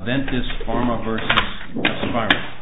VENTIS PHARMA v. HOSPIRA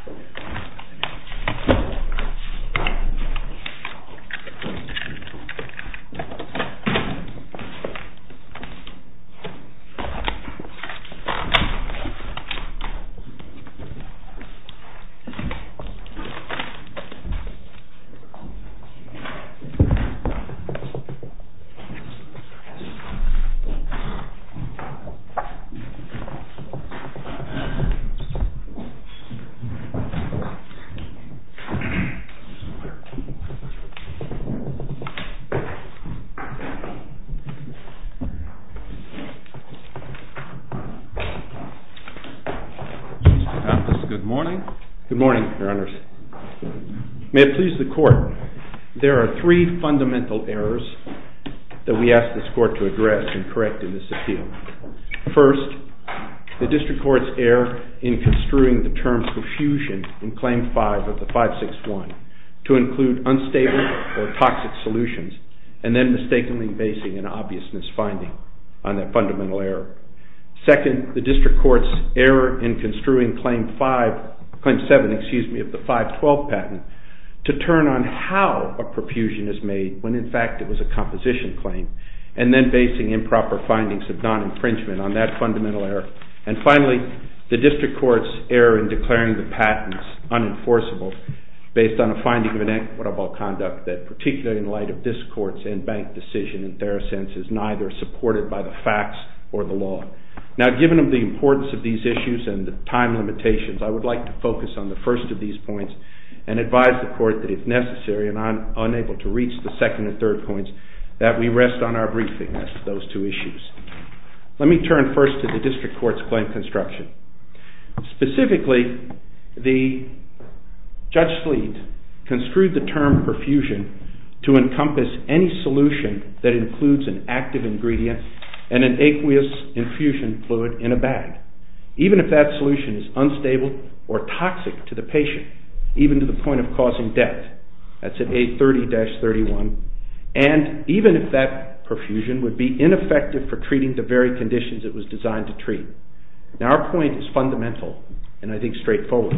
May it please the court, there are three fundamental errors that we ask this court to address and correct in this appeal. First, the district court's error in construing the term profusion in Claim 5 of the 561 to include unstable or toxic solutions and then mistakenly basing an obvious misfinding on that fundamental error. Second, the district court's error in construing Claim 7 of the 512 patent to turn on how a profusion is made when in fact it was a composition claim and then basing improper findings of non-infringement on that fundamental error. And finally, the district court's error in declaring the patents unenforceable based on a finding of inequitable conduct that particularly in light of this court's in-bank decision in Therosense is neither supported by the facts or the law. Now given the importance of these issues and the time limitations, I would like to focus on the first of these points and advise the court that if necessary, and I'm unable to reach the second and third points, that we rest on our briefing on those two issues. Let me turn first to the district court's claim construction. Specifically, Judge Sleet construed the term profusion to encompass any solution that includes an active ingredient and an aqueous infusion fluid in a bag, even if that solution is unstable or toxic to the patient, even to the point of causing death. That's at 830-31. And even if that profusion would be ineffective for treating the very conditions it was designed to treat. Now our point is fundamental and I think straightforward.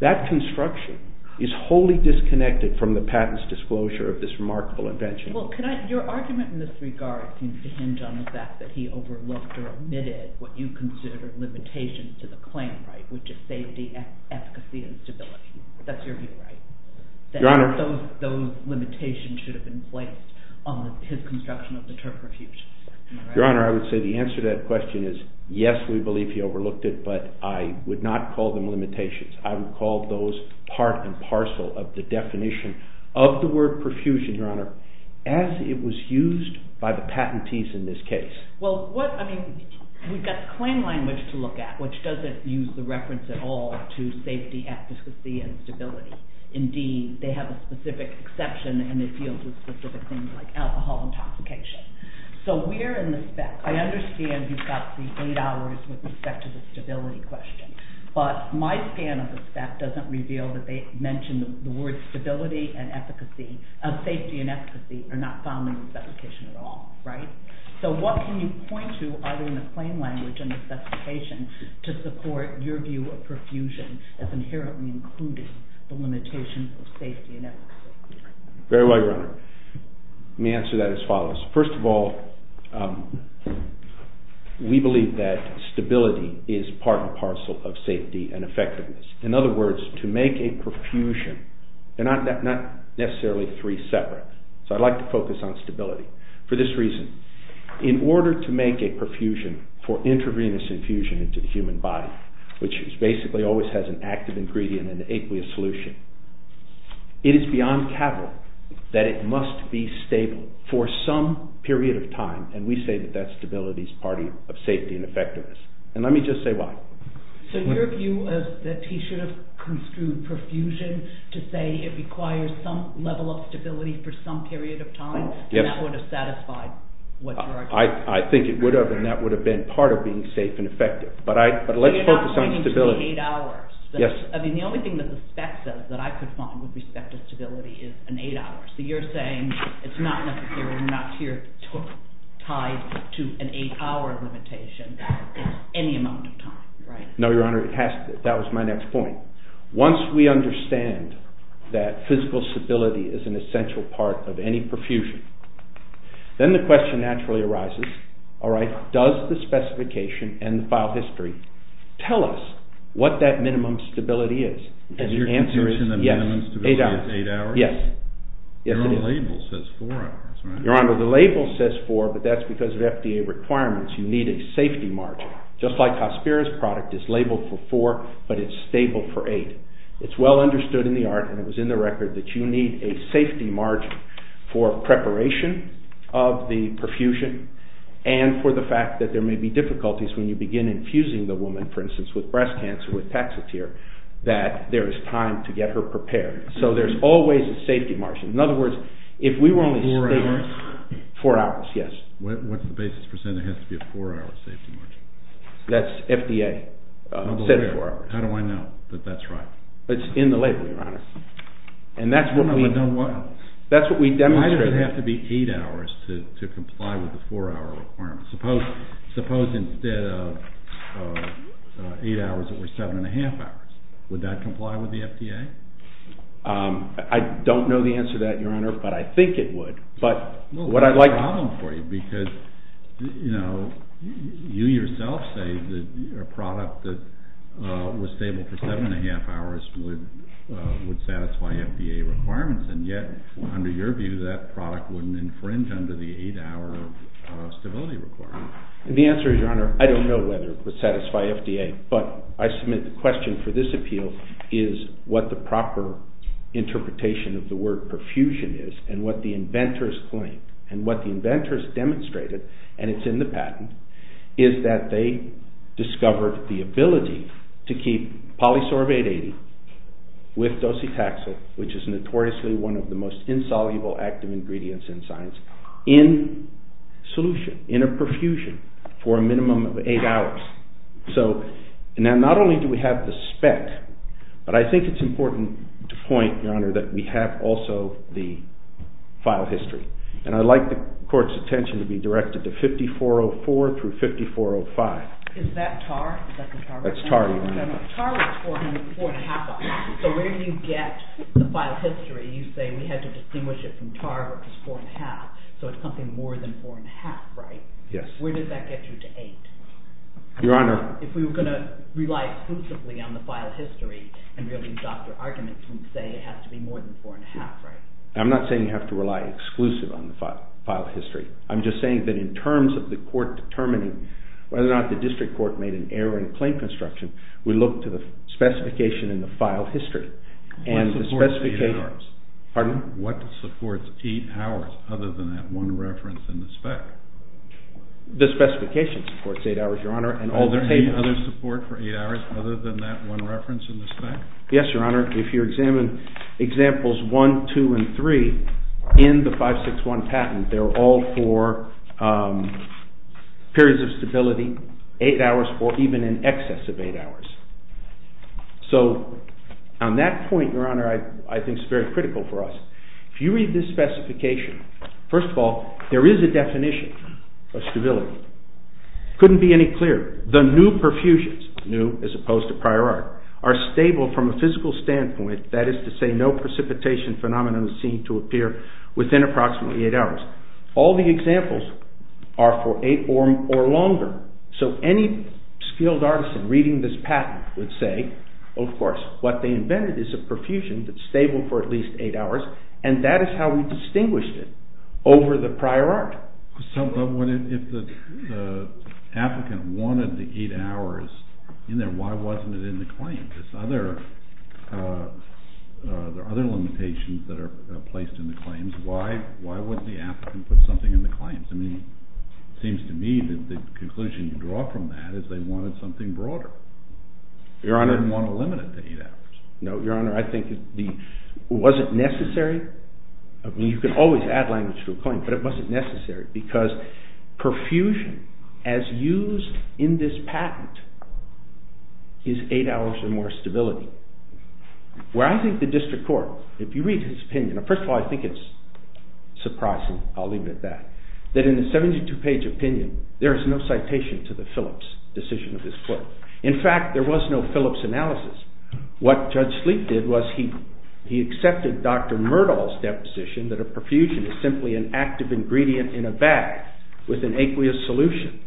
That construction is wholly disconnected from the patent's disclosure of this remarkable invention. Your argument in this regard seems to hinge on the fact that he overlooked or omitted what you consider limitations to the claim right, which is safety, efficacy, and stability. That's your view, right? Your Honor. Those limitations should have been placed on his construction of the term profusion. Your Honor, I would say the answer to that question is yes, we believe he overlooked it, but I would not call them limitations. I would call those part and parcel of the definition of the word profusion, Your Honor, as it was used by the patentees in this case. Well, I mean, we've got the claim language to look at, which doesn't use the reference at all to safety, efficacy, and stability. Indeed, they have a specific exception and it deals with specific things like alcohol intoxication. So we're in the spec. I understand you've got the eight hours with respect to the stability question, but my scan of the spec doesn't reveal that they mention the word stability and efficacy, safety and efficacy are not found in this application at all, right? So what can you point to either in the claim language and the specification to support your view of profusion as inherently including the limitations of safety and efficacy? Very well, Your Honor. Let me answer that as follows. First of all, we believe that stability is part and parcel of safety and effectiveness. In other words, to make a profusion, they're not necessarily three separate, so I'd like to focus on stability for this reason. In order to make a profusion for intravenous infusion into the human body, which basically always has an active ingredient in the aqueous solution, it is beyond capital that it must be stable for some period of time, and we say that that stability is part of safety and effectiveness. And let me just say why. So your view is that he should have construed profusion to say it requires some level of stability for some period of time, and that would have satisfied what you're arguing? I think it would have, and that would have been part of being safe and effective. But let's focus on stability. I mean, the only thing that the spec says that I could find with respect to stability is an eight hour. So you're saying it's not necessarily tied to an eight hour limitation. It's any amount of time, right? No, Your Honor, that was my next point. Once we understand that physical stability is an essential part of any profusion, then the question naturally arises, all right, does the specification and the file history tell us what that minimum stability is? And your conjection of minimum stability is eight hours? Yes. Your own label says four hours, right? Your Honor, the label says four, but that's because of FDA requirements. You need a safety margin. Just like Hospira's product is labeled for four, but it's stable for eight. It's well understood in the art, and it was in the record, that you need a safety margin for preparation of the profusion and for the fact that there may be difficulties when you begin infusing the woman, for instance, with breast cancer with Taxotere, that there is time to get her prepared. So there's always a safety margin. In other words, if we were only... Four hours? Four hours, yes. What's the basis for saying there has to be a four hour safety margin? That's FDA. How do I know that that's right? It's in the label, Your Honor. And that's what we... How do I know what? That's what we demonstrate. Why does it have to be eight hours to comply with the four hour requirement? Suppose instead of eight hours, it were seven and a half hours. Would that comply with the FDA? I don't know the answer to that, Your Honor, but I think it would. But what I'd like to... Well, that's a problem for you because, you know, you yourself say that a product that was stable for seven and a half hours would satisfy FDA requirements. And yet, under your view, that product wouldn't infringe under the eight hour stability requirement. The answer is, Your Honor, I don't know whether it would satisfy FDA, but I submit the question for this appeal is what the proper interpretation of the word perfusion is and what the inventors claim. And what the inventors demonstrated, and it's in the patent, is that they discovered the ability to keep polysorbate 80 with docetaxel, which is notoriously one of the most insoluble active ingredients in science, in solution, in a perfusion for a minimum of eight hours. So, not only do we have the spec, but I think it's important to point, Your Honor, that we have also the file history. And I'd like the court's attention to be directed to 5404 through 5405. Is that TAR? That's TAR, Your Honor. TAR was four and a half hours. So where do you get the file history? You say we had to distinguish it from TAR, which is four and a half, so it's something more than four and a half, right? Yes. Where does that get you to eight? Your Honor. If we were going to rely exclusively on the file history and really doctor arguments and say it has to be more than four and a half, right? I'm not saying you have to rely exclusively on the file history. I'm just saying that in terms of the court determining whether or not the district court made an error in claim construction, we look to the specification in the file history. What supports eight hours? Pardon? What supports eight hours other than that one reference in the spec? The specification supports eight hours, Your Honor. Are there any other support for eight hours other than that one reference in the spec? Yes, Your Honor. If you examine examples one, two, and three in the 561 patent, they're all for periods of stability, eight hours, or even in excess of eight hours. So on that point, Your Honor, I think it's very critical for us. If you read this specification, first of all, there is a definition of stability. It couldn't be any clearer. The new perfusions, new as opposed to prior art, are stable from a physical standpoint, that is to say no precipitation phenomenon is seen to appear within approximately eight hours. All the examples are for eight or longer. So any skilled artisan reading this patent would say, of course, what they invented is a perfusion that's stable for at least eight hours, and that is how we distinguished it over the prior art. So if the applicant wanted the eight hours in there, why wasn't it in the claim? There are other limitations that are placed in the claims. Why wouldn't the applicant put something in the claims? I mean, it seems to me that the conclusion you draw from that is they wanted something broader. Your Honor. They didn't want to limit it to eight hours. No, Your Honor. I think it wasn't necessary. I mean, you can always add language to a claim, but it wasn't necessary because perfusion, as used in this patent, is eight hours or more stability. Where I think the district court, if you read his opinion, first of all, I think it's surprising, I'll leave it at that, that in a 72-page opinion, there is no citation to the Phillips decision of his court. In fact, there was no Phillips analysis. What Judge Sleep did was he accepted Dr. Myrdal's deposition that a perfusion is simply an active ingredient in a bag with an aqueous solution.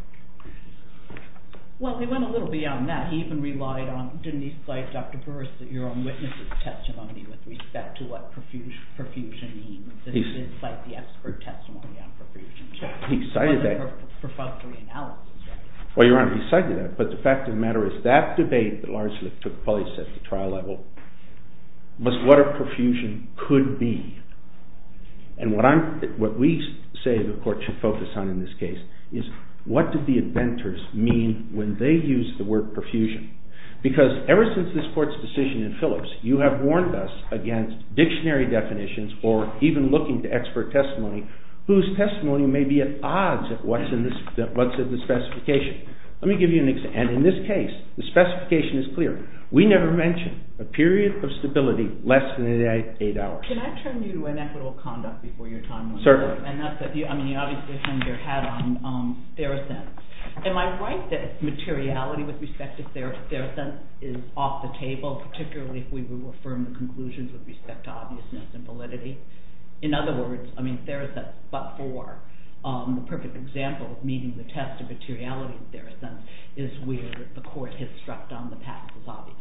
Well, he went a little beyond that. He even relied on, didn't he cite Dr. Burris, your own witness' testimony with respect to what perfusion means? He did cite the expert testimony on perfusion. He cited that. Well, Your Honor, he cited that, but the fact of the matter is that debate that largely took place at the trial level was what a perfusion could be. And what we say the court should focus on in this case is what did the inventors mean when they used the word perfusion? Because ever since this court's decision in Phillips, you have warned us against dictionary definitions or even looking to expert testimony whose testimony may be at odds with what's in the specification. Let me give you an example. And in this case, the specification is clear. We never mention a period of stability less than 8 hours. Your Honor, can I turn you to inequitable conduct before your time runs out? Certainly. I mean, you obviously turned your head on theracents. Am I right that materiality with respect to theracents is off the table, particularly if we were to affirm the conclusions with respect to obviousness and validity? In other words, I mean, theracents but for the perfect example of meeting the test of materiality with theracents is where the court has struck down the patents as obvious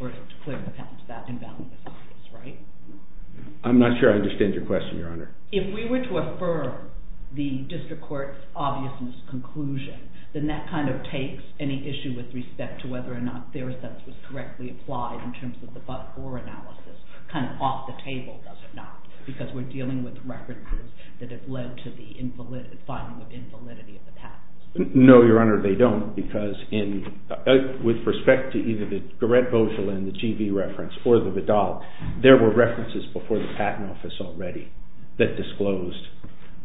or has declared the patents that invalid as obvious, right? I'm not sure I understand your question, Your Honor. If we were to affirm the district court's obviousness conclusion, then that kind of takes any issue with respect to whether or not theracents was correctly applied in terms of the but-for analysis kind of off the table, does it not? Because we're dealing with references that have led to the finding of invalidity of the patents. No, Your Honor, they don't because with respect to either the Gourette-Bogelin, the GV reference, or the Vidal, there were references before the patent office already that disclosed,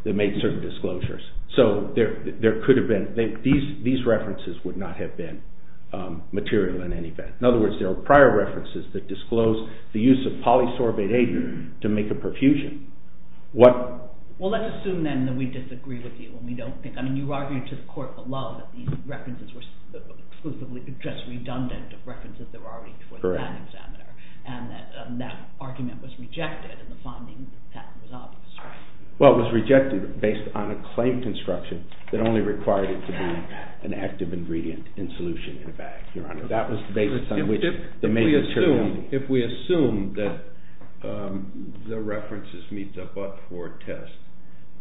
that made certain disclosures. So there could have been, these references would not have been material in any event. In other words, there were prior references that disclosed the use of polysorbate aid to make a perfusion. Well, let's assume then that we disagree with you. I mean, you argued to the court below that these references were exclusively just redundant of references that were already before the patent examiner. And that argument was rejected in the finding that the patent was obvious, right? Well, it was rejected based on a claim construction that only required it to be an active ingredient in solution in a bag, Your Honor. If we assume that the references meet the but-for test,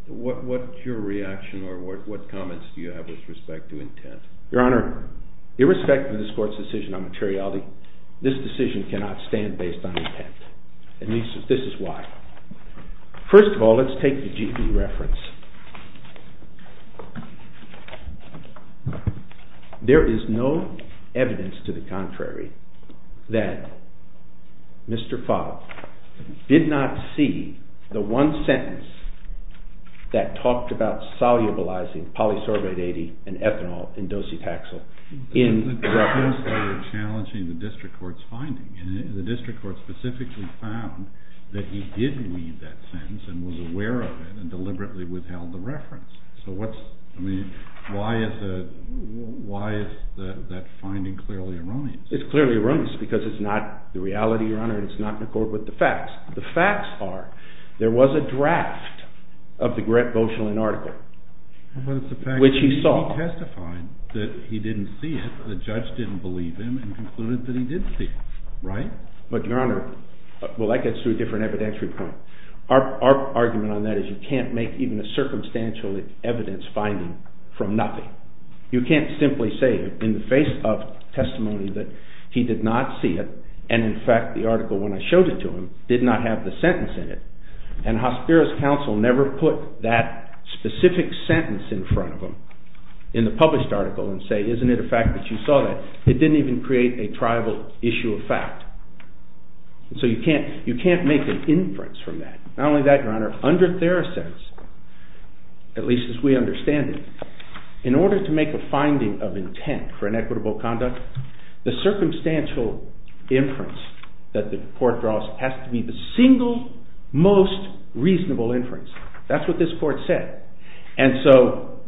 what's your reaction or what comments do you have with respect to intent? Your Honor, irrespective of this court's decision on materiality, this decision cannot stand based on intent. And this is why. First of all, let's take the GV reference. There is no evidence to the contrary that Mr. Favre did not see the one sentence that talked about solubilizing polysorbate aid and ethanol in docetaxel in reference to… The district court specifically found that he did read that sentence and was aware of it and deliberately withheld the reference. So what's… I mean, why is that finding clearly erroneous? It's clearly erroneous because it's not the reality, Your Honor, and it's not in accord with the facts. The facts are there was a draft of the Gret Boshelin article, which he saw. He testified that he didn't see it. The judge didn't believe him and concluded that he did see it, right? But, Your Honor, well, that gets to a different evidentiary point. Our argument on that is you can't make even a circumstantial evidence finding from nothing. You can't simply say in the face of testimony that he did not see it and, in fact, the article when I showed it to him did not have the sentence in it. And Hospiro's counsel never put that specific sentence in front of him in the published article and say, isn't it a fact that you saw that? It didn't even create a tribal issue of fact. So you can't make an inference from that. Not only that, Your Honor, under Therese's, at least as we understand it, in order to make a finding of intent for inequitable conduct, the circumstantial inference that the court draws has to be the single most reasonable inference. That's what this court said. And so,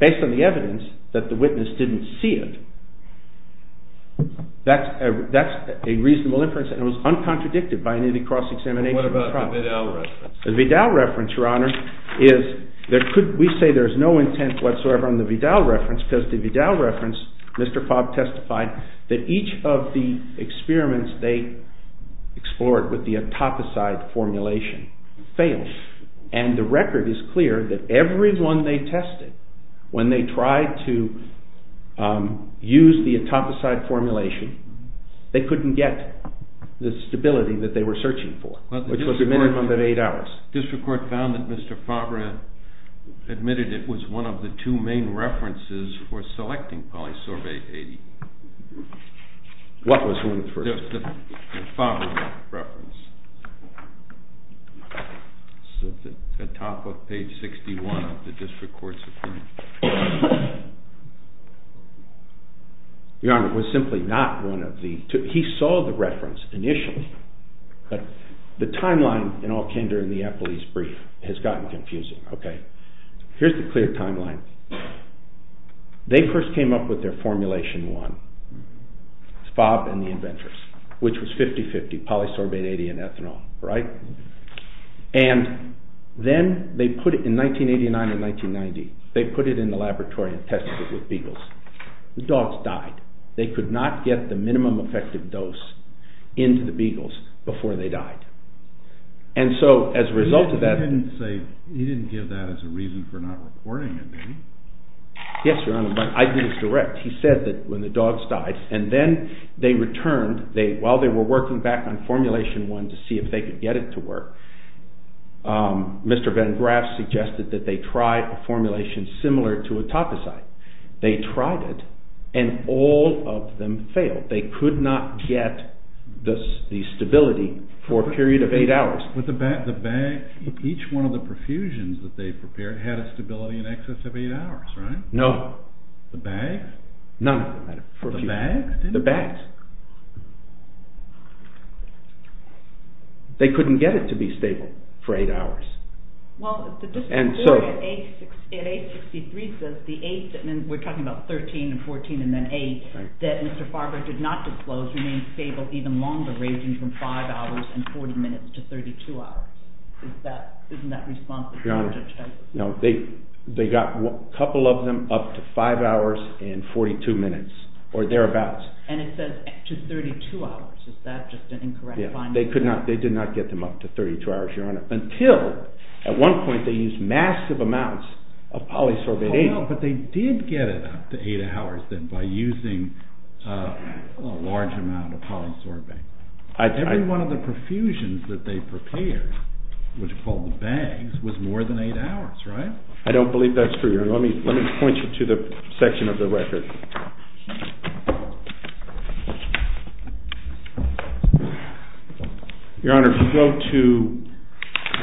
based on the evidence that the witness didn't see it, that's a reasonable inference and it was uncontradicted by any cross-examination of the trial. What about the Vidal reference? We say there's no intent whatsoever on the Vidal reference because the Vidal reference, Mr. Fobb testified, that each of the experiments they explored with the autoposite formulation failed. And the record is clear that everyone they tested, when they tried to use the autoposite formulation, they couldn't get the stability that they were searching for, which was a minimum of eight hours. District Court found that Mr. Favre admitted it was one of the two main references for selecting polysorbate 80. What was the first one? The Favre reference. It's at the top of page 61 of the District Court's opinion. Your Honor, it was simply not one of the two. He saw the reference initially, but the timeline in all kinder and the Eppley's brief has gotten confusing. Here's the clear timeline. They first came up with their formulation one, Favre and the inventors, which was 50-50, polysorbate 80 and ethanol. And then, in 1989 and 1990, they put it in the laboratory and tested it with beagles. The dogs died. They could not get the minimum effective dose into the beagles before they died. He didn't give that as a reason for not reporting it, did he? Yes, Your Honor, but I didn't direct. He said that when the dogs died and then they returned, while they were working back on formulation one to see if they could get it to work, Mr. Van Graff suggested that they try a formulation similar to a topicite. They tried it and all of them failed. They could not get the stability for a period of eight hours. With the bag, each one of the perfusions that they prepared had a stability in excess of eight hours, right? No. The bag? None of them had a perfusion. The bag? The bag. They couldn't get it to be stable for eight hours. Well, the discipline at 863 says, we're talking about 13 and 14 and then 8, that Mr. Favre did not disclose, remained stable even longer, ranging from five hours and 40 minutes to 32 hours. Isn't that response that the judge had? No. They got a couple of them up to five hours and 42 minutes or thereabouts. And it says up to 32 hours. Is that just an incorrect finding? They did not get them up to 32 hours, Your Honor, until at one point they used massive amounts of polysorbate 8. Oh, no, but they did get it up to eight hours then by using a large amount of polysorbate. Every one of the perfusions that they prepared, which are called the bags, was more than eight hours, right? I don't believe that's true, Your Honor. Let me point you to the section of the record. Your Honor, if you go to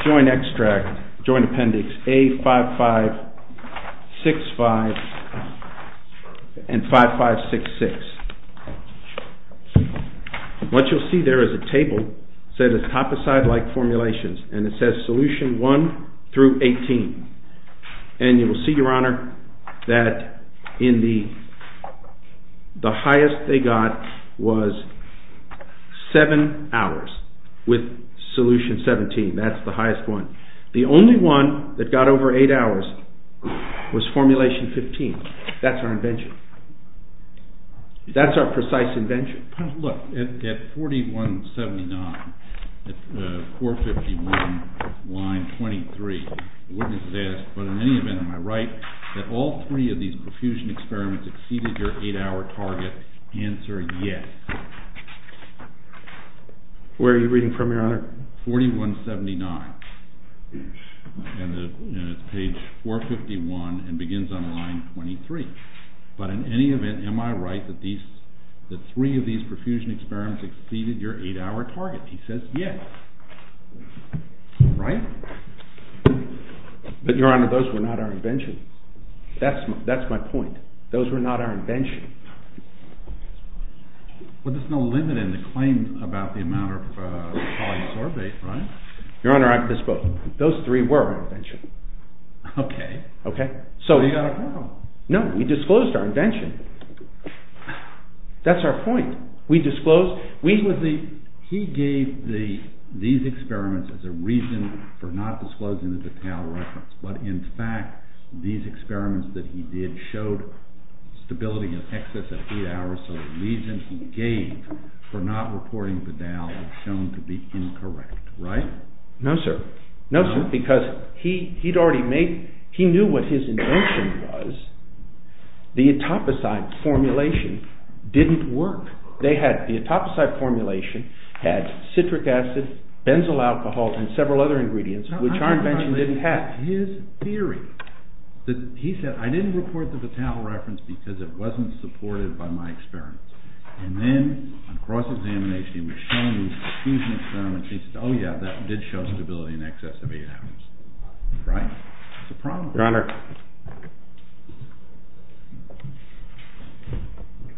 joint extract, joint appendix A5565 and 5566, what you'll see there is a table set as toposide-like formulations and it says solution 1 through 18. And you will see, Your Honor, that the highest they got was seven hours with solution 17. That's the highest one. The only one that got over eight hours was formulation 15. That's our invention. That's our precise invention. Look, at 4179, at 451, line 23, the witness says, But in any event, am I right that all three of these perfusion experiments exceeded your eight-hour target? Answer, yes. Where are you reading from, Your Honor? 4179. And it's page 451 and begins on line 23. But in any event, am I right that three of these perfusion experiments exceeded your eight-hour target? He says, yes. Right? But, Your Honor, those were not our invention. That's my point. Those were not our invention. But there's no limit in the claim about the amount of polysorbate, right? Your Honor, those three were our invention. Okay. Okay. So you got a problem. No, we disclosed our invention. That's our point. We disclosed. He gave these experiments as a reason for not disclosing the Bedal reference, but in fact, these experiments that he did showed stability in excess of eight hours, so the reason he gave for not reporting Bedal is shown to be incorrect, right? No, sir. No, sir, because he knew what his invention was. The etoposite formulation didn't work. The etoposite formulation had citric acid, benzyl alcohol, and several other ingredients, which our invention didn't have. His theory, he said, I didn't report the Bedal reference because it wasn't supported by my experiments. And then, on cross-examination, he was shown these confusion experiments. He said, oh yeah, that did show stability in excess of eight hours, right? It's a problem. Your Honor,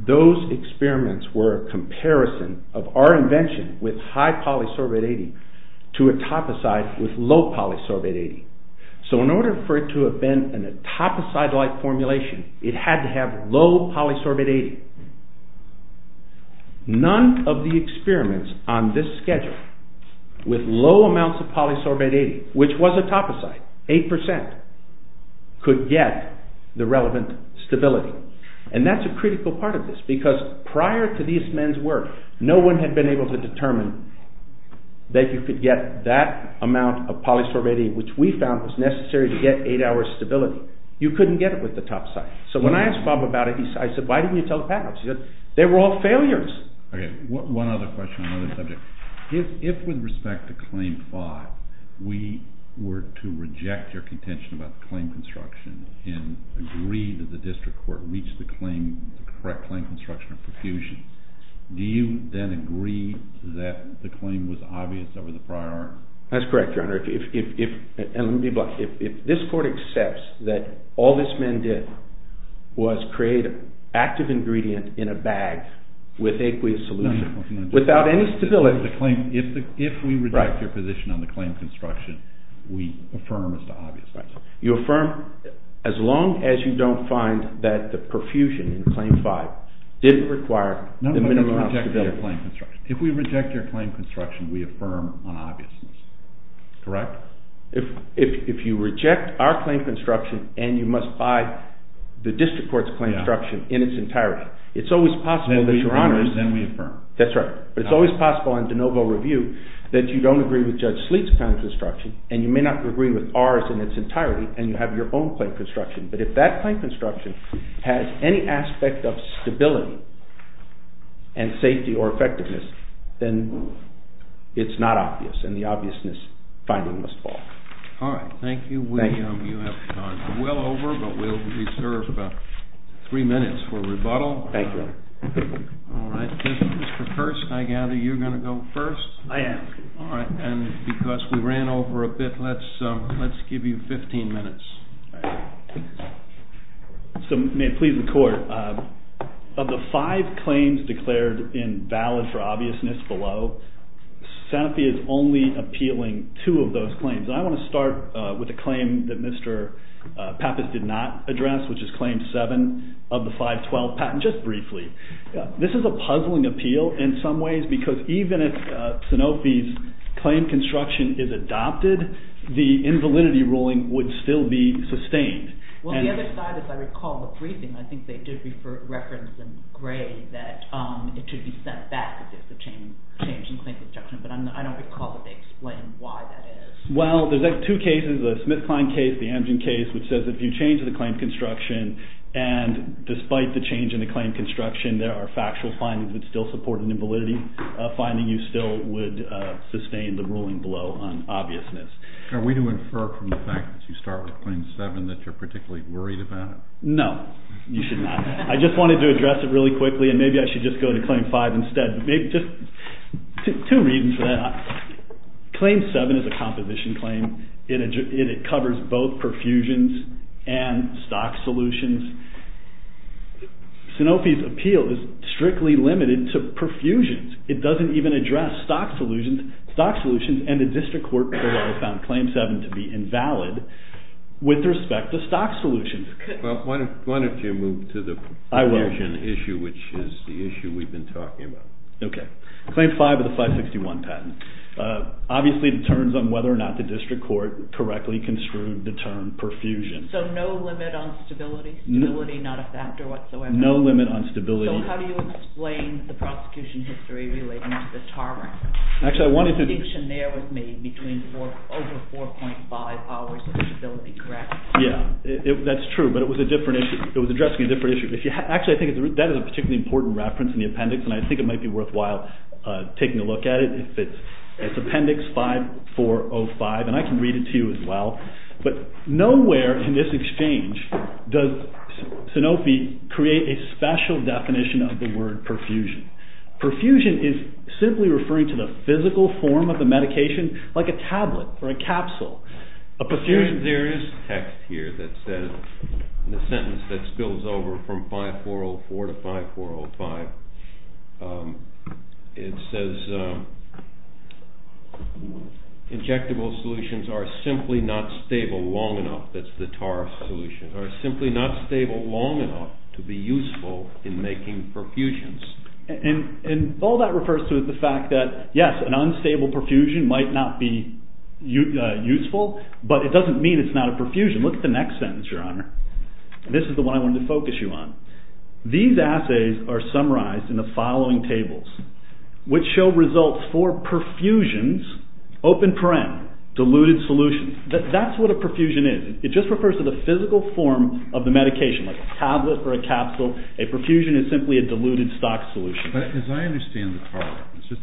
those experiments were a comparison of our invention with high polysorbate 80 to etoposite with low polysorbate 80. So in order for it to have been an etoposite-like formulation, it had to have low polysorbate 80. None of the experiments on this schedule with low amounts of polysorbate 80, which was etoposite, 8%, could get the relevant stability. And that's a critical part of this because prior to these men's work, no one had been able to determine that you could get that amount of polysorbate 80, which we found was necessary to get eight hours stability. So you couldn't get it with etoposite. So when I asked Bob about it, I said, why didn't you tell Pat about it? He said, they were all failures. One other question on another subject. If, with respect to Claim 5, we were to reject your contention about the claim construction and agree that the district court reached the correct claim construction of perfusion, do you then agree that the claim was obvious over the prior argument? That's correct, Your Honor. And let me be blunt. If this court accepts that all this man did was create an active ingredient in a bag with aqueous solution without any stability. If we reject your position on the claim construction, we affirm as to obviousness. You affirm as long as you don't find that the perfusion in Claim 5 didn't require the minimum amount of stability. If we reject your claim construction, we affirm on obviousness. Correct? If you reject our claim construction and you must buy the district court's claim construction in its entirety, it's always possible that Your Honor... Then we affirm. That's right. But it's always possible in de novo review that you don't agree with Judge Sleet's claim construction and you may not agree with ours in its entirety and you have your own claim construction. But if that claim construction has any aspect of stability and safety or effectiveness, then it's not obvious and the obviousness finding must fall. All right. Thank you. Thank you. You have gone well over, but we'll reserve three minutes for rebuttal. Thank you, Your Honor. All right. Mr. Kirst, I gather you're going to go first? I am. All right. And because we ran over a bit, let's give you 15 minutes. All right. So may it please the court, of the five claims declared invalid for obviousness below, Sanofi is only appealing two of those claims. I want to start with a claim that Mr. Pappas did not address, which is claim seven of the 512 patent, just briefly. This is a puzzling appeal in some ways because even if Sanofi's claim construction is adopted, the invalidity ruling would still be sustained. Well, the other side, if I recall the briefing, I think they did reference in gray that it should be set back if there's a change in claim construction, but I don't recall that they explained why that is. Well, there's two cases, the Smith-Kline case, the Amgen case, which says if you change the claim construction and despite the change in the claim construction there are factual findings that still support an invalidity finding, you still would sustain the ruling below on obviousness. Are we to infer from the fact that you start with claim seven that you're particularly worried about it? No, you should not. I just wanted to address it really quickly and maybe I should just go to claim five instead. Two reasons for that. Claim seven is a composition claim. It covers both perfusions and stock solutions. Sanofi's appeal is strictly limited to perfusions. It doesn't even address stock solutions and the district court found claim seven to be invalid with respect to stock solutions. Well, why don't you move to the perfusion issue, which is the issue we've been talking about. Okay. Claim five of the 561 patent. Obviously it turns on whether or not the district court correctly construed the term perfusion. So no limit on stability? Stability not a factor whatsoever? No limit on stability. So how do you explain the prosecution history relating to the tarmac? The distinction there was made between over 4.5 hours of stability, correct? Yeah, that's true, but it was addressing a different issue. Actually, I think that is a particularly important reference in the appendix and I think it might be worthwhile taking a look at it. It's appendix 5405 and I can read it to you as well. But nowhere in this exchange does Sanofi create a special definition of the word perfusion. Perfusion is simply referring to the physical form of the medication like a tablet or a capsule. There is text here that says, in the sentence that spills over from 5404 to 5405, it says injectable solutions are simply not stable long enough, that's the tar solution, are simply not stable long enough to be useful in making perfusions. And all that refers to is the fact that, yes, an unstable perfusion might not be useful, but it doesn't mean it's not a perfusion. Look at the next sentence, Your Honor. This is the one I wanted to focus you on. These assays are summarized in the following tables, which show results for perfusions, open paren, diluted solutions. That's what a perfusion is. It just refers to the physical form of the medication like a tablet or a capsule. A perfusion is simply a diluted stock solution. But as I understand the tar, let's just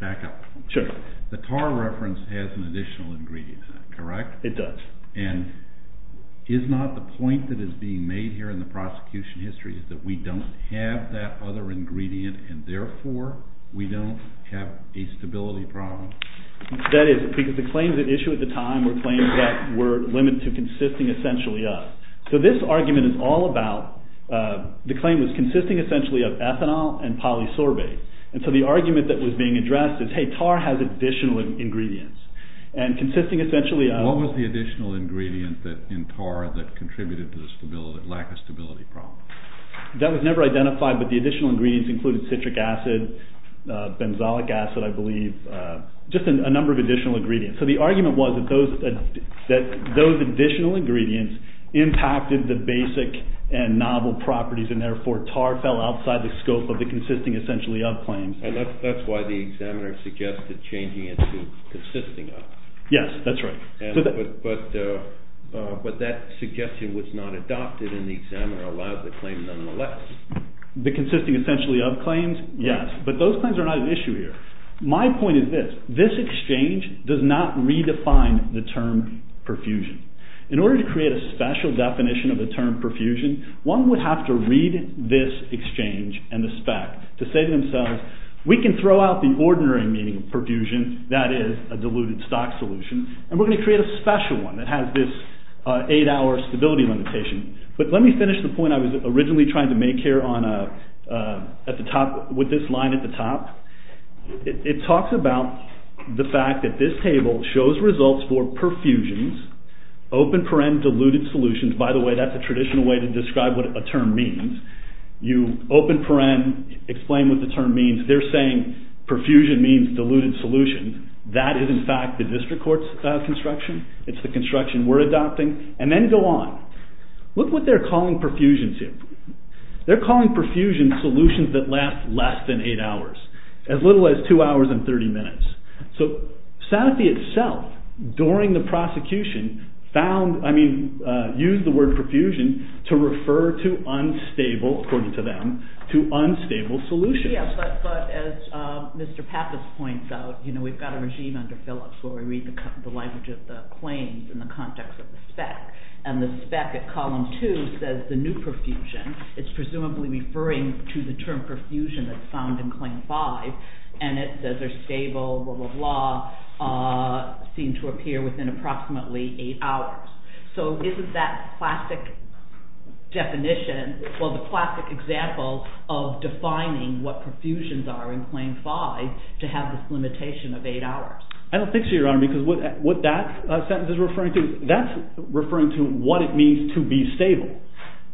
back up. Sure. The tar reference has an additional ingredient in it, correct? It does. And is not the point that is being made here in the prosecution history is that we don't have that other ingredient and therefore we don't have a stability problem? That is because the claims at issue at the time were claims that were limited to consisting essentially of. So this argument is all about, the claim was consisting essentially of ethanol and polysorbate. And so the argument that was being addressed is, hey, tar has additional ingredients. And consisting essentially of. What was the additional ingredient in tar that contributed to the lack of stability problem? That was never identified, but the additional ingredients included citric acid, benzoic acid, I believe, just a number of additional ingredients. So the argument was that those additional ingredients impacted the basic and novel properties and therefore tar fell outside the scope of the consisting essentially of claims. And that's why the examiner suggested changing it to consisting of. Yes, that's right. But that suggestion was not adopted and the examiner allowed the claim nonetheless. The consisting essentially of claims, yes. But those claims are not at issue here. My point is this. This exchange does not redefine the term perfusion. In order to create a special definition of the term perfusion, one would have to read this exchange and the spec to say to themselves, we can throw out the ordinary meaning of perfusion, that is a diluted stock solution, and we're going to create a special one that has this eight-hour stability limitation. But let me finish the point I was originally trying to make here with this line at the top. It talks about the fact that this table shows results for perfusions, open paren, diluted solutions. By the way, that's a traditional way to describe what a term means. You open paren, explain what the term means. They're saying perfusion means diluted solution. That is in fact the district court's construction. It's the construction we're adopting. And then go on. Look what they're calling perfusions here. They're calling perfusion solutions that last less than eight hours, as little as two hours and 30 minutes. So Sanofi itself, during the prosecution, used the word perfusion to refer to unstable, according to them, to unstable solutions. Yes, but as Mr. Pappas points out, we've got a regime under Phillips where we read the language of the claims in the context of the spec, and the spec at column two says the new perfusion. It's presumably referring to the term perfusion that's found in claim five, and it says they're stable, blah, blah, blah, seem to appear within approximately eight hours. So isn't that classic definition, well, the classic example of defining what perfusions are in claim five, to have this limitation of eight hours? I don't think so, Your Honor, because what that sentence is referring to, that's referring to what it means to be stable.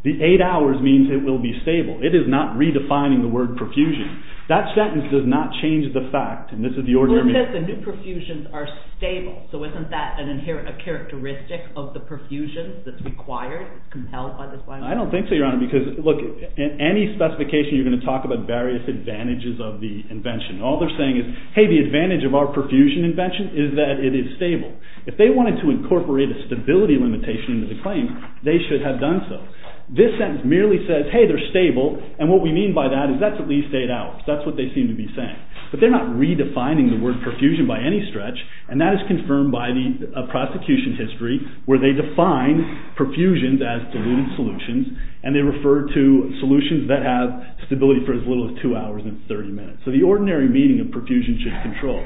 The eight hours means it will be stable. It is not redefining the word perfusion. That sentence does not change the fact, and this is the order I'm in. Well, it says the new perfusions are stable, so isn't that a characteristic of the perfusion that's required, compelled by this language? I don't think so, Your Honor, because, look, in any specification, you're going to talk about various advantages of the invention. All they're saying is, hey, the advantage of our perfusion invention is that it is stable. If they wanted to incorporate a stability limitation into the claim, they should have done so. This sentence merely says, hey, they're stable, and what we mean by that is that's at least eight hours. That's what they seem to be saying. But they're not redefining the word perfusion by any stretch, and that is confirmed by the prosecution history where they define perfusions as diluted solutions, and they refer to solutions that have stability for as little as two hours and 30 minutes. So the ordinary meaning of perfusion should control.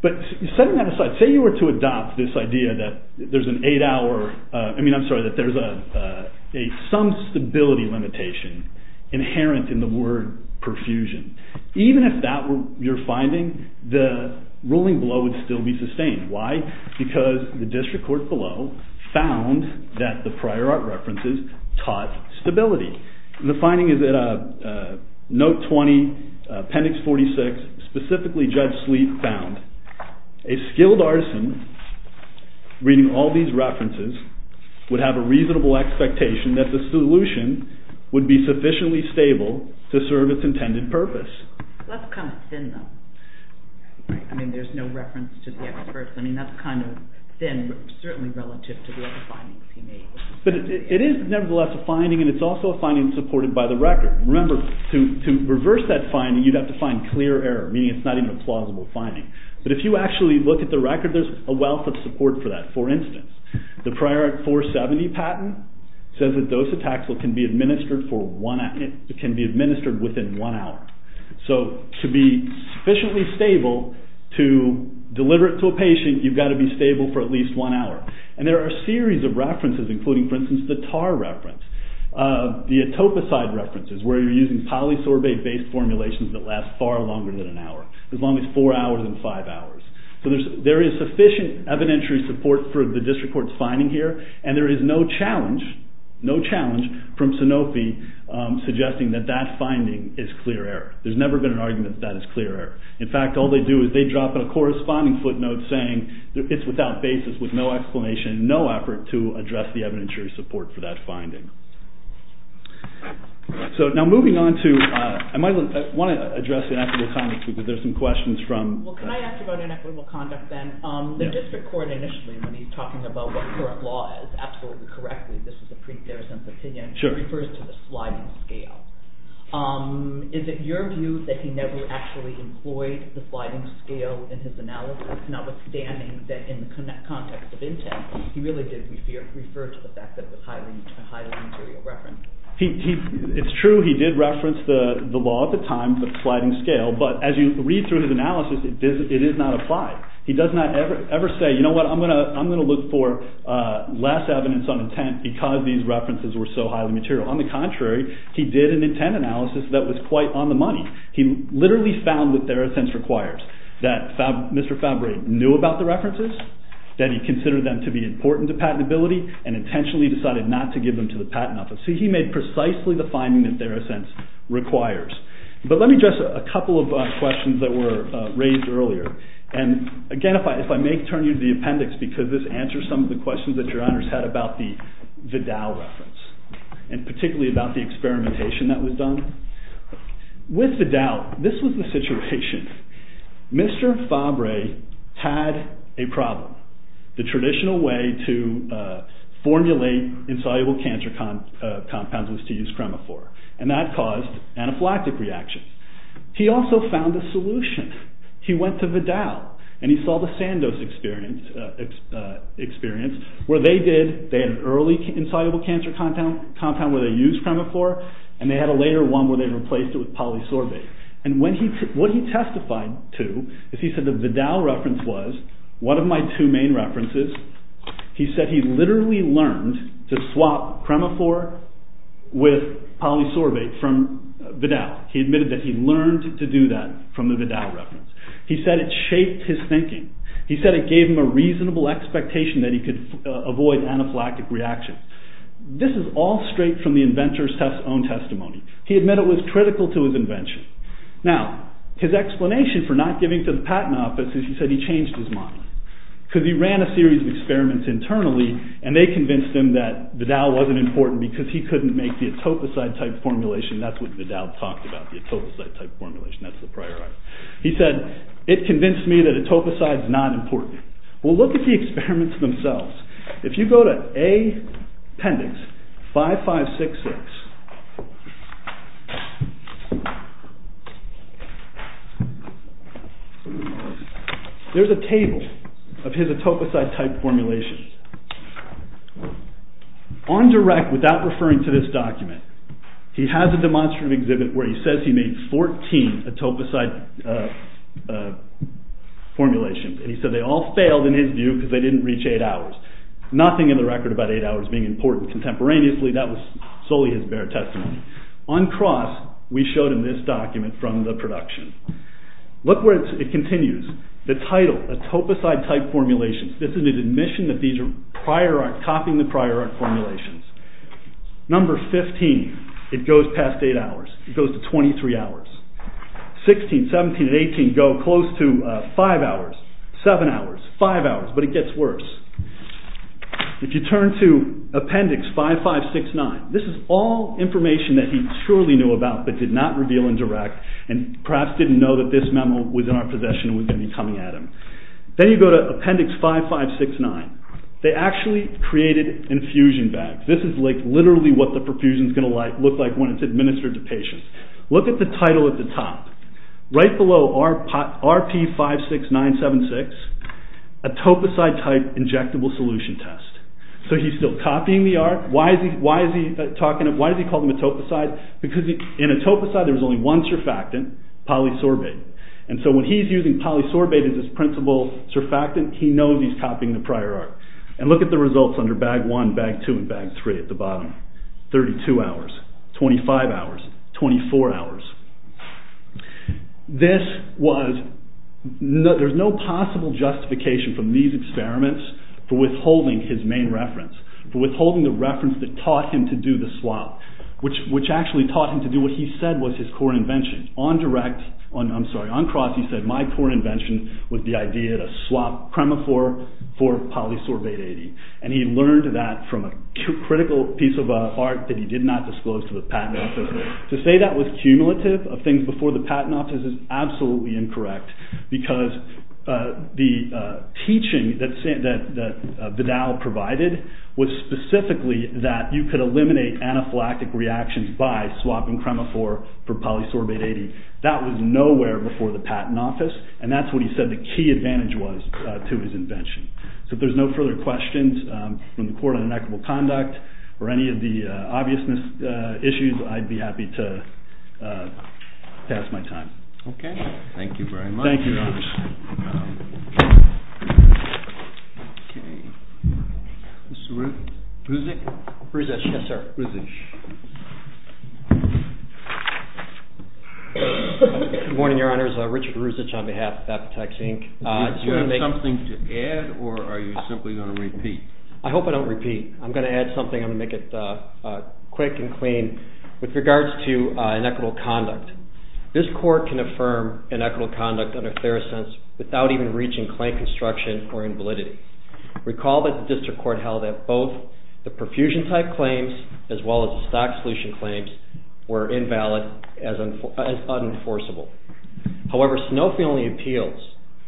But setting that aside, say you were to adopt this idea that there's an eight-hour, I mean, I'm sorry, that there's some stability limitation inherent in the word perfusion. Even if that were your finding, the ruling below would still be sustained. Why? Because the district court below found that the prior art references taught stability. The finding is that Note 20, Appendix 46, specifically Judge Sleet found, a skilled artisan reading all these references would have a reasonable expectation that the solution would be sufficiently stable to serve its intended purpose. Well, that's kind of thin, though. I mean, there's no reference to the experts. I mean, that's kind of thin, certainly relative to the other findings he made. But it is nevertheless a finding, and it's also a finding supported by the record. Remember, to reverse that finding, you'd have to find clear error, meaning it's not even a plausible finding. But if you actually look at the record, there's a wealth of support for that. For instance, the prior art 470 patent says that dositaxel can be administered within one hour. So to be sufficiently stable to deliver it to a patient, you've got to be stable for at least one hour. And there are a series of references, including, for instance, the tar reference, the atopicide references, where you're using polysorbate-based formulations that last far longer than an hour, as long as four hours and five hours. So there is sufficient evidentiary support for the district court's finding here, and there is no challenge from Sanofi suggesting that that finding is clear error. There's never been an argument that that is clear error. In fact, all they do is they drop in a corresponding footnote saying it's without basis, with no explanation, no effort to address the evidentiary support for that finding. So now moving on to – I want to address the inequitable comments, because there's some questions from – Well, can I ask about inequitable conduct then? The district court initially, when he's talking about what current law is, absolutely correctly, this is a pre-Theresa's opinion, refers to the sliding scale. Is it your view that he never actually employed the sliding scale in his analysis, notwithstanding that in the context of intent, he really did refer to the fact that it was highly material reference? It's true he did reference the law at the time, the sliding scale, but as you read through his analysis, it is not applied. He does not ever say, you know what, I'm going to look for less evidence on intent because these references were so highly material. On the contrary, he did an intent analysis that was quite on the money. He literally found what TheraSense requires, that Mr. Fabry knew about the references, that he considered them to be important to patentability, and intentionally decided not to give them to the patent office. So he made precisely the finding that TheraSense requires. But let me address a couple of questions that were raised earlier, and again, if I may turn you to the appendix, because this answers some of the questions that your honors had about the Vidal reference, and particularly about the experimentation that was done. With Vidal, this was the situation. Mr. Fabry had a problem. The traditional way to formulate insoluble cancer compounds was to use cremaphore, and that caused anaphylactic reactions. He also found a solution. He went to Vidal, and he saw the Sandos experience, where they did, they had an early insoluble cancer compound where they used cremaphore, and they had a later one where they replaced it with polysorbate. And what he testified to, is he said the Vidal reference was, one of my two main references, he said he literally learned to swap cremaphore with polysorbate from Vidal. He admitted that he learned to do that from the Vidal reference. He said it shaped his thinking. He said it gave him a reasonable expectation that he could avoid anaphylactic reactions. This is all straight from the inventor's own testimony. He admitted it was critical to his invention. Now, his explanation for not giving to the patent office is he said he changed his mind. Because he ran a series of experiments internally, and they convinced him that Vidal wasn't important because he couldn't make the atopicite type formulation. That's what Vidal talked about, the atopicite type formulation. That's the prior art. He said, it convinced me that atopicite is not important. Well, look at the experiments themselves. If you go to appendix 5566, there's a table of his atopicite type formulations. On direct, without referring to this document, he has a demonstrative exhibit where he says he made 14 atopicite formulations. He said they all failed in his view because they didn't reach 8 hours. Nothing in the record about 8 hours being important. Contemporaneously, that was solely his bare testimony. On cross, we showed him this document from the production. Look where it continues. The title, atopicite type formulations. This is an admission that these are copying the prior art formulations. Number 15, it goes past 8 hours. It goes to 23 hours. 16, 17, and 18 go close to 5 hours, 7 hours, 5 hours, but it gets worse. If you turn to appendix 5569, this is all information that he surely knew about but did not reveal in direct and perhaps didn't know that this memo was in our possession and was going to be coming at him. Then you go to appendix 5569. They actually created infusion bags. This is literally what the perfusion is going to look like when it's administered to patients. Look at the title at the top. Right below RP56976, atopicite type injectable solution test. He's still copying the art. Why does he call them atopicite? Because in atopicite, there's only one surfactant, polysorbate. When he's using polysorbate as his principal surfactant, he knows he's copying the prior art. Look at the results under bag 1, bag 2, and bag 3 at the bottom. 32 hours, 25 hours, 24 hours. There's no possible justification from these experiments for withholding his main reference, for withholding the reference that taught him to do the swap, which actually taught him to do what he said was his core invention. On cross, he said, my core invention was the idea to swap Premifor for polysorbate 80. He learned that from a critical piece of art that he did not disclose to the patent office. To say that was cumulative of things before the patent office is absolutely incorrect because the teaching that Vidal provided was specifically that you could eliminate anaphylactic reactions by swapping Premifor for polysorbate 80. That was nowhere before the patent office, and that's what he said the key advantage was to his invention. So if there's no further questions from the Court on Inequitable Conduct or any of the obviousness issues, I'd be happy to pass my time. Okay. Thank you very much. Thank you, Your Honor. Mr. Ruzic? Ruzic, yes, sir. Ruzic. Good morning, Your Honors. Richard Ruzic on behalf of Apotex, Inc. Do you have something to add or are you simply going to repeat? I hope I don't repeat. I'm going to add something. I'm going to make it quick and clean. With regards to inequitable conduct, this court can affirm inequitable conduct under Therosense without even reaching claim construction or invalidity. Recall that the district court held that both the perfusion-type claims as well as the stock solution claims were invalid as unenforceable. However, Sanofi only appeals,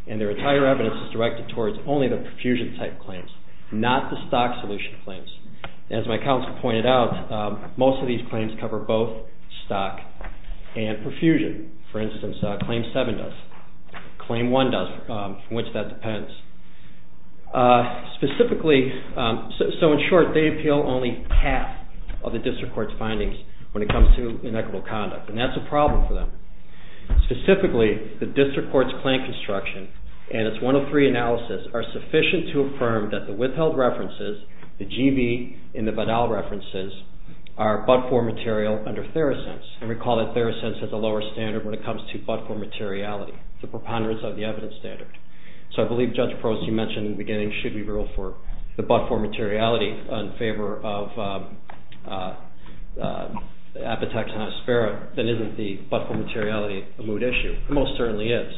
and their entire evidence is directed towards only the perfusion-type claims, not the stock solution claims. As my counsel pointed out, most of these claims cover both stock and perfusion. For instance, Claim 7 does. Claim 1 does, from which that depends. Specifically, so in short, they appeal only half of the district court's findings when it comes to inequitable conduct, and that's a problem for them. Specifically, the district court's claim construction and its 103 analysis are sufficient to affirm that the withheld references, the GB and the Vidal references, are but-for material under Therosense. And recall that Therosense has a lower standard when it comes to but-for materiality, the preponderance of the evidence standard. So I believe Judge Proce, you mentioned in the beginning, should we rule for the but-for materiality in favor of Apotex and Aspera, then isn't the but-for materiality a moot issue? It most certainly is.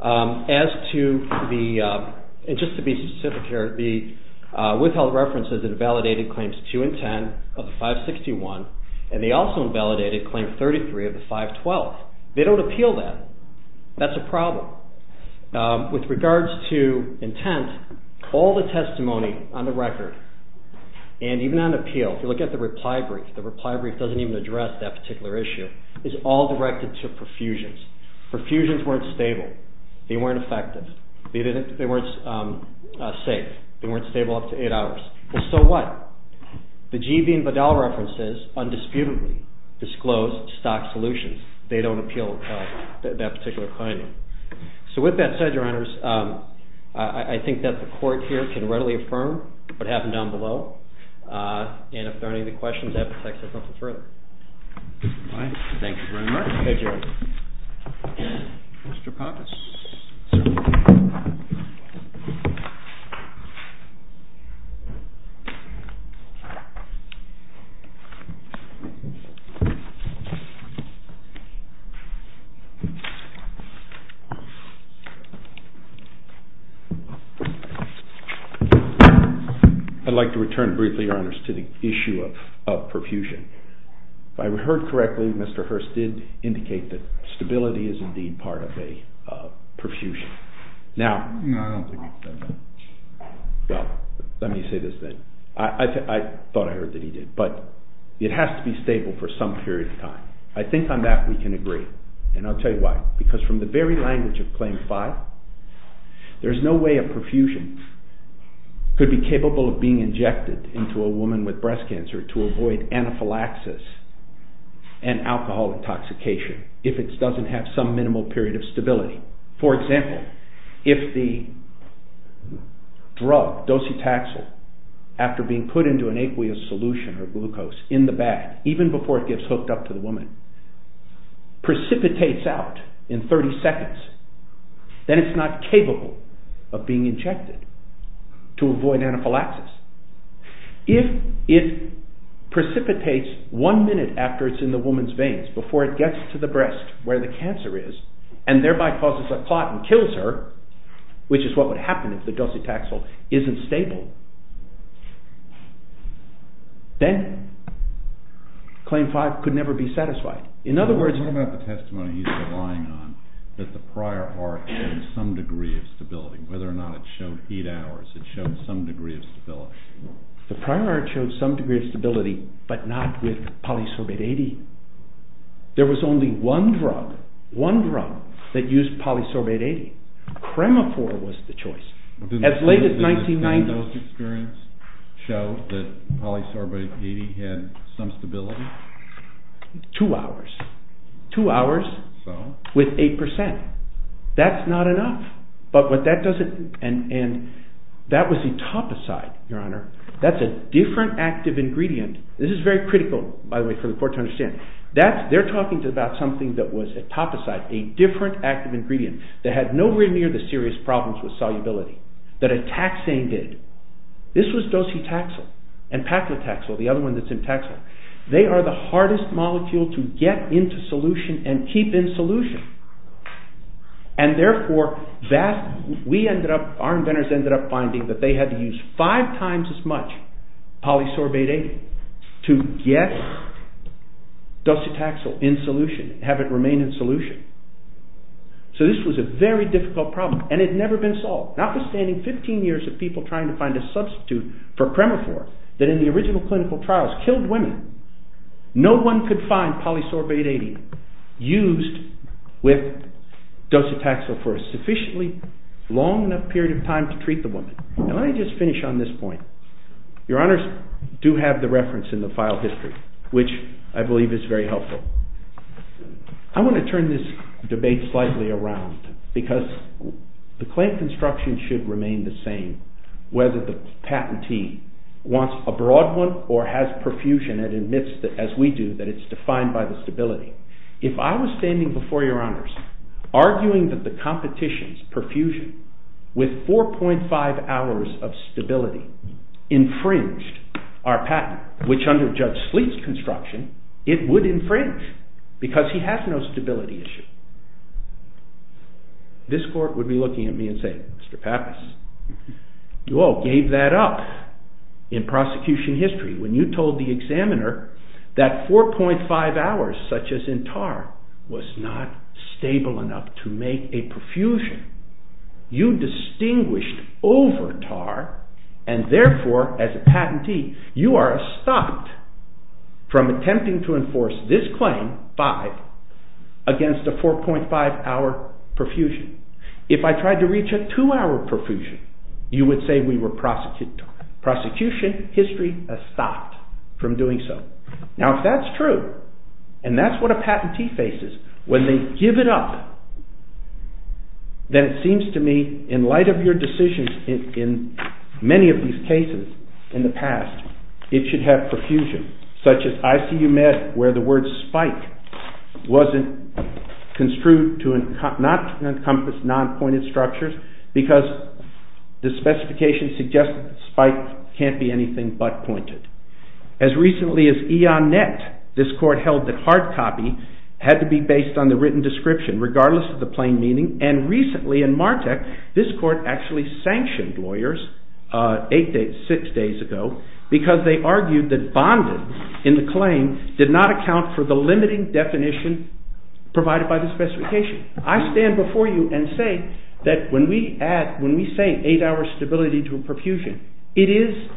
As to the, and just to be specific here, the withheld references invalidated Claims 2 and 10 of the 561, and they also invalidated Claim 33 of the 512. They don't appeal that. That's a problem. With regards to intent, all the testimony on the record, and even on appeal, if you look at the reply brief, the reply brief doesn't even address that particular issue, is all directed to perfusions. Perfusions weren't stable. They weren't effective. They weren't safe. They weren't stable up to eight hours. So what? The G.V. and Vidal references undisputedly disclose stock solutions. They don't appeal that particular finding. So with that said, Your Honors, I think that the Court here can readily affirm what happened down below, and if there are any other questions, Apotex has nothing further. Thank you very much. I'd like to return briefly, Your Honors, to the issue of perfusion. If I heard correctly, Mr. Hurst did indicate that stability is indeed part of a perfusion. Now... No, I don't think he said that. Well, let me say this then. I thought I heard that he did, but it has to be stable for some period of time. I think on that we can agree, and I'll tell you why. Because from the very language of Claim 5, there's no way a perfusion could be capable of being injected into a woman with breast cancer to avoid anaphylaxis and alcohol intoxication if it doesn't have some minimal period of stability. For example, if the drug, docetaxel, after being put into an aqueous solution or glucose, in the bag, even before it gets hooked up to the woman, precipitates out in 30 seconds, then it's not capable of being injected to avoid anaphylaxis. If it precipitates one minute after it's in the woman's veins, before it gets to the breast, where the cancer is, and thereby causes a clot and kills her, which is what would happen if the docetaxel isn't stable, then Claim 5 could never be satisfied. In other words... What about the testimony he's relying on, that the prior art had some degree of stability, whether or not it showed heat hours, it showed some degree of stability. The prior art showed some degree of stability, but not with polysorbate 80. There was only one drug, one drug, that used polysorbate 80. Cremafor was the choice. As late as 1990... Didn't those experiments show that polysorbate 80 had some stability? Two hours. Two hours with 8%. That's not enough. But what that doesn't... That was etoposide, Your Honor. That's a different active ingredient. This is very critical, by the way, for the court to understand. They're talking about something that was etoposide, a different active ingredient that had nowhere near the serious problems with solubility that a taxane did. This was docetaxel, and paclitaxel, the other one that's in taxa. They are the hardest molecule to get into solution and keep in solution. And therefore, we ended up... Our inventors ended up finding that they had to use five times as much polysorbate 80 to get docetaxel in solution, have it remain in solution. So this was a very difficult problem, and it had never been solved, notwithstanding 15 years of people trying to find a substitute for Cremafor that in the original clinical trials killed women. No one could find polysorbate 80 used with docetaxel for a sufficiently long enough period of time to treat the woman. Now let me just finish on this point. Your honors do have the reference in the file history, which I believe is very helpful. I want to turn this debate slightly around because the claim construction should remain the same whether the patentee wants a broad one or has perfusion and admits, as we do, that it's defined by the stability. If I was standing before your honors arguing that the competition's perfusion with 4.5 hours of stability infringed our patent, which under Judge Sleet's construction it would infringe because he has no stability issue. This court would be looking at me and saying, Mr. Pappas, you all gave that up in prosecution history when you told the examiner that 4.5 hours, such as in Tarr, was not stable enough to make a perfusion. You distinguished over Tarr and therefore, as a patentee, you are stopped from attempting to enforce this claim, 5, against a 4.5 hour perfusion. If I tried to reach a 2 hour perfusion you would say we were prosecuted. Prosecution history has stopped from doing so. Now if that's true, and that's what a patentee faces, when they give it up, then it seems to me in light of your decisions in many of these cases in the past, it should have perfusion. Such as ICU Med where the word spike wasn't construed to not encompass non-pointed structures because the specification suggests spike can't be anything but pointed. As recently as IONET, this court held that hard copy had to be based on the written description regardless of the plain meaning. And recently in MARTEC, this court actually sanctioned lawyers 6 days ago because they argued that bondage in the claim did not account for the limiting definition provided by the specification. I stand before you and say that when we say 8 hour stability to a perfusion, it is,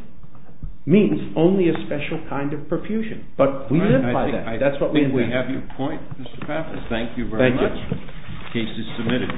means, only a special kind of perfusion. But we live by that. I think we have your point, Mr. Pappas. Thank you very much. Case is submitted.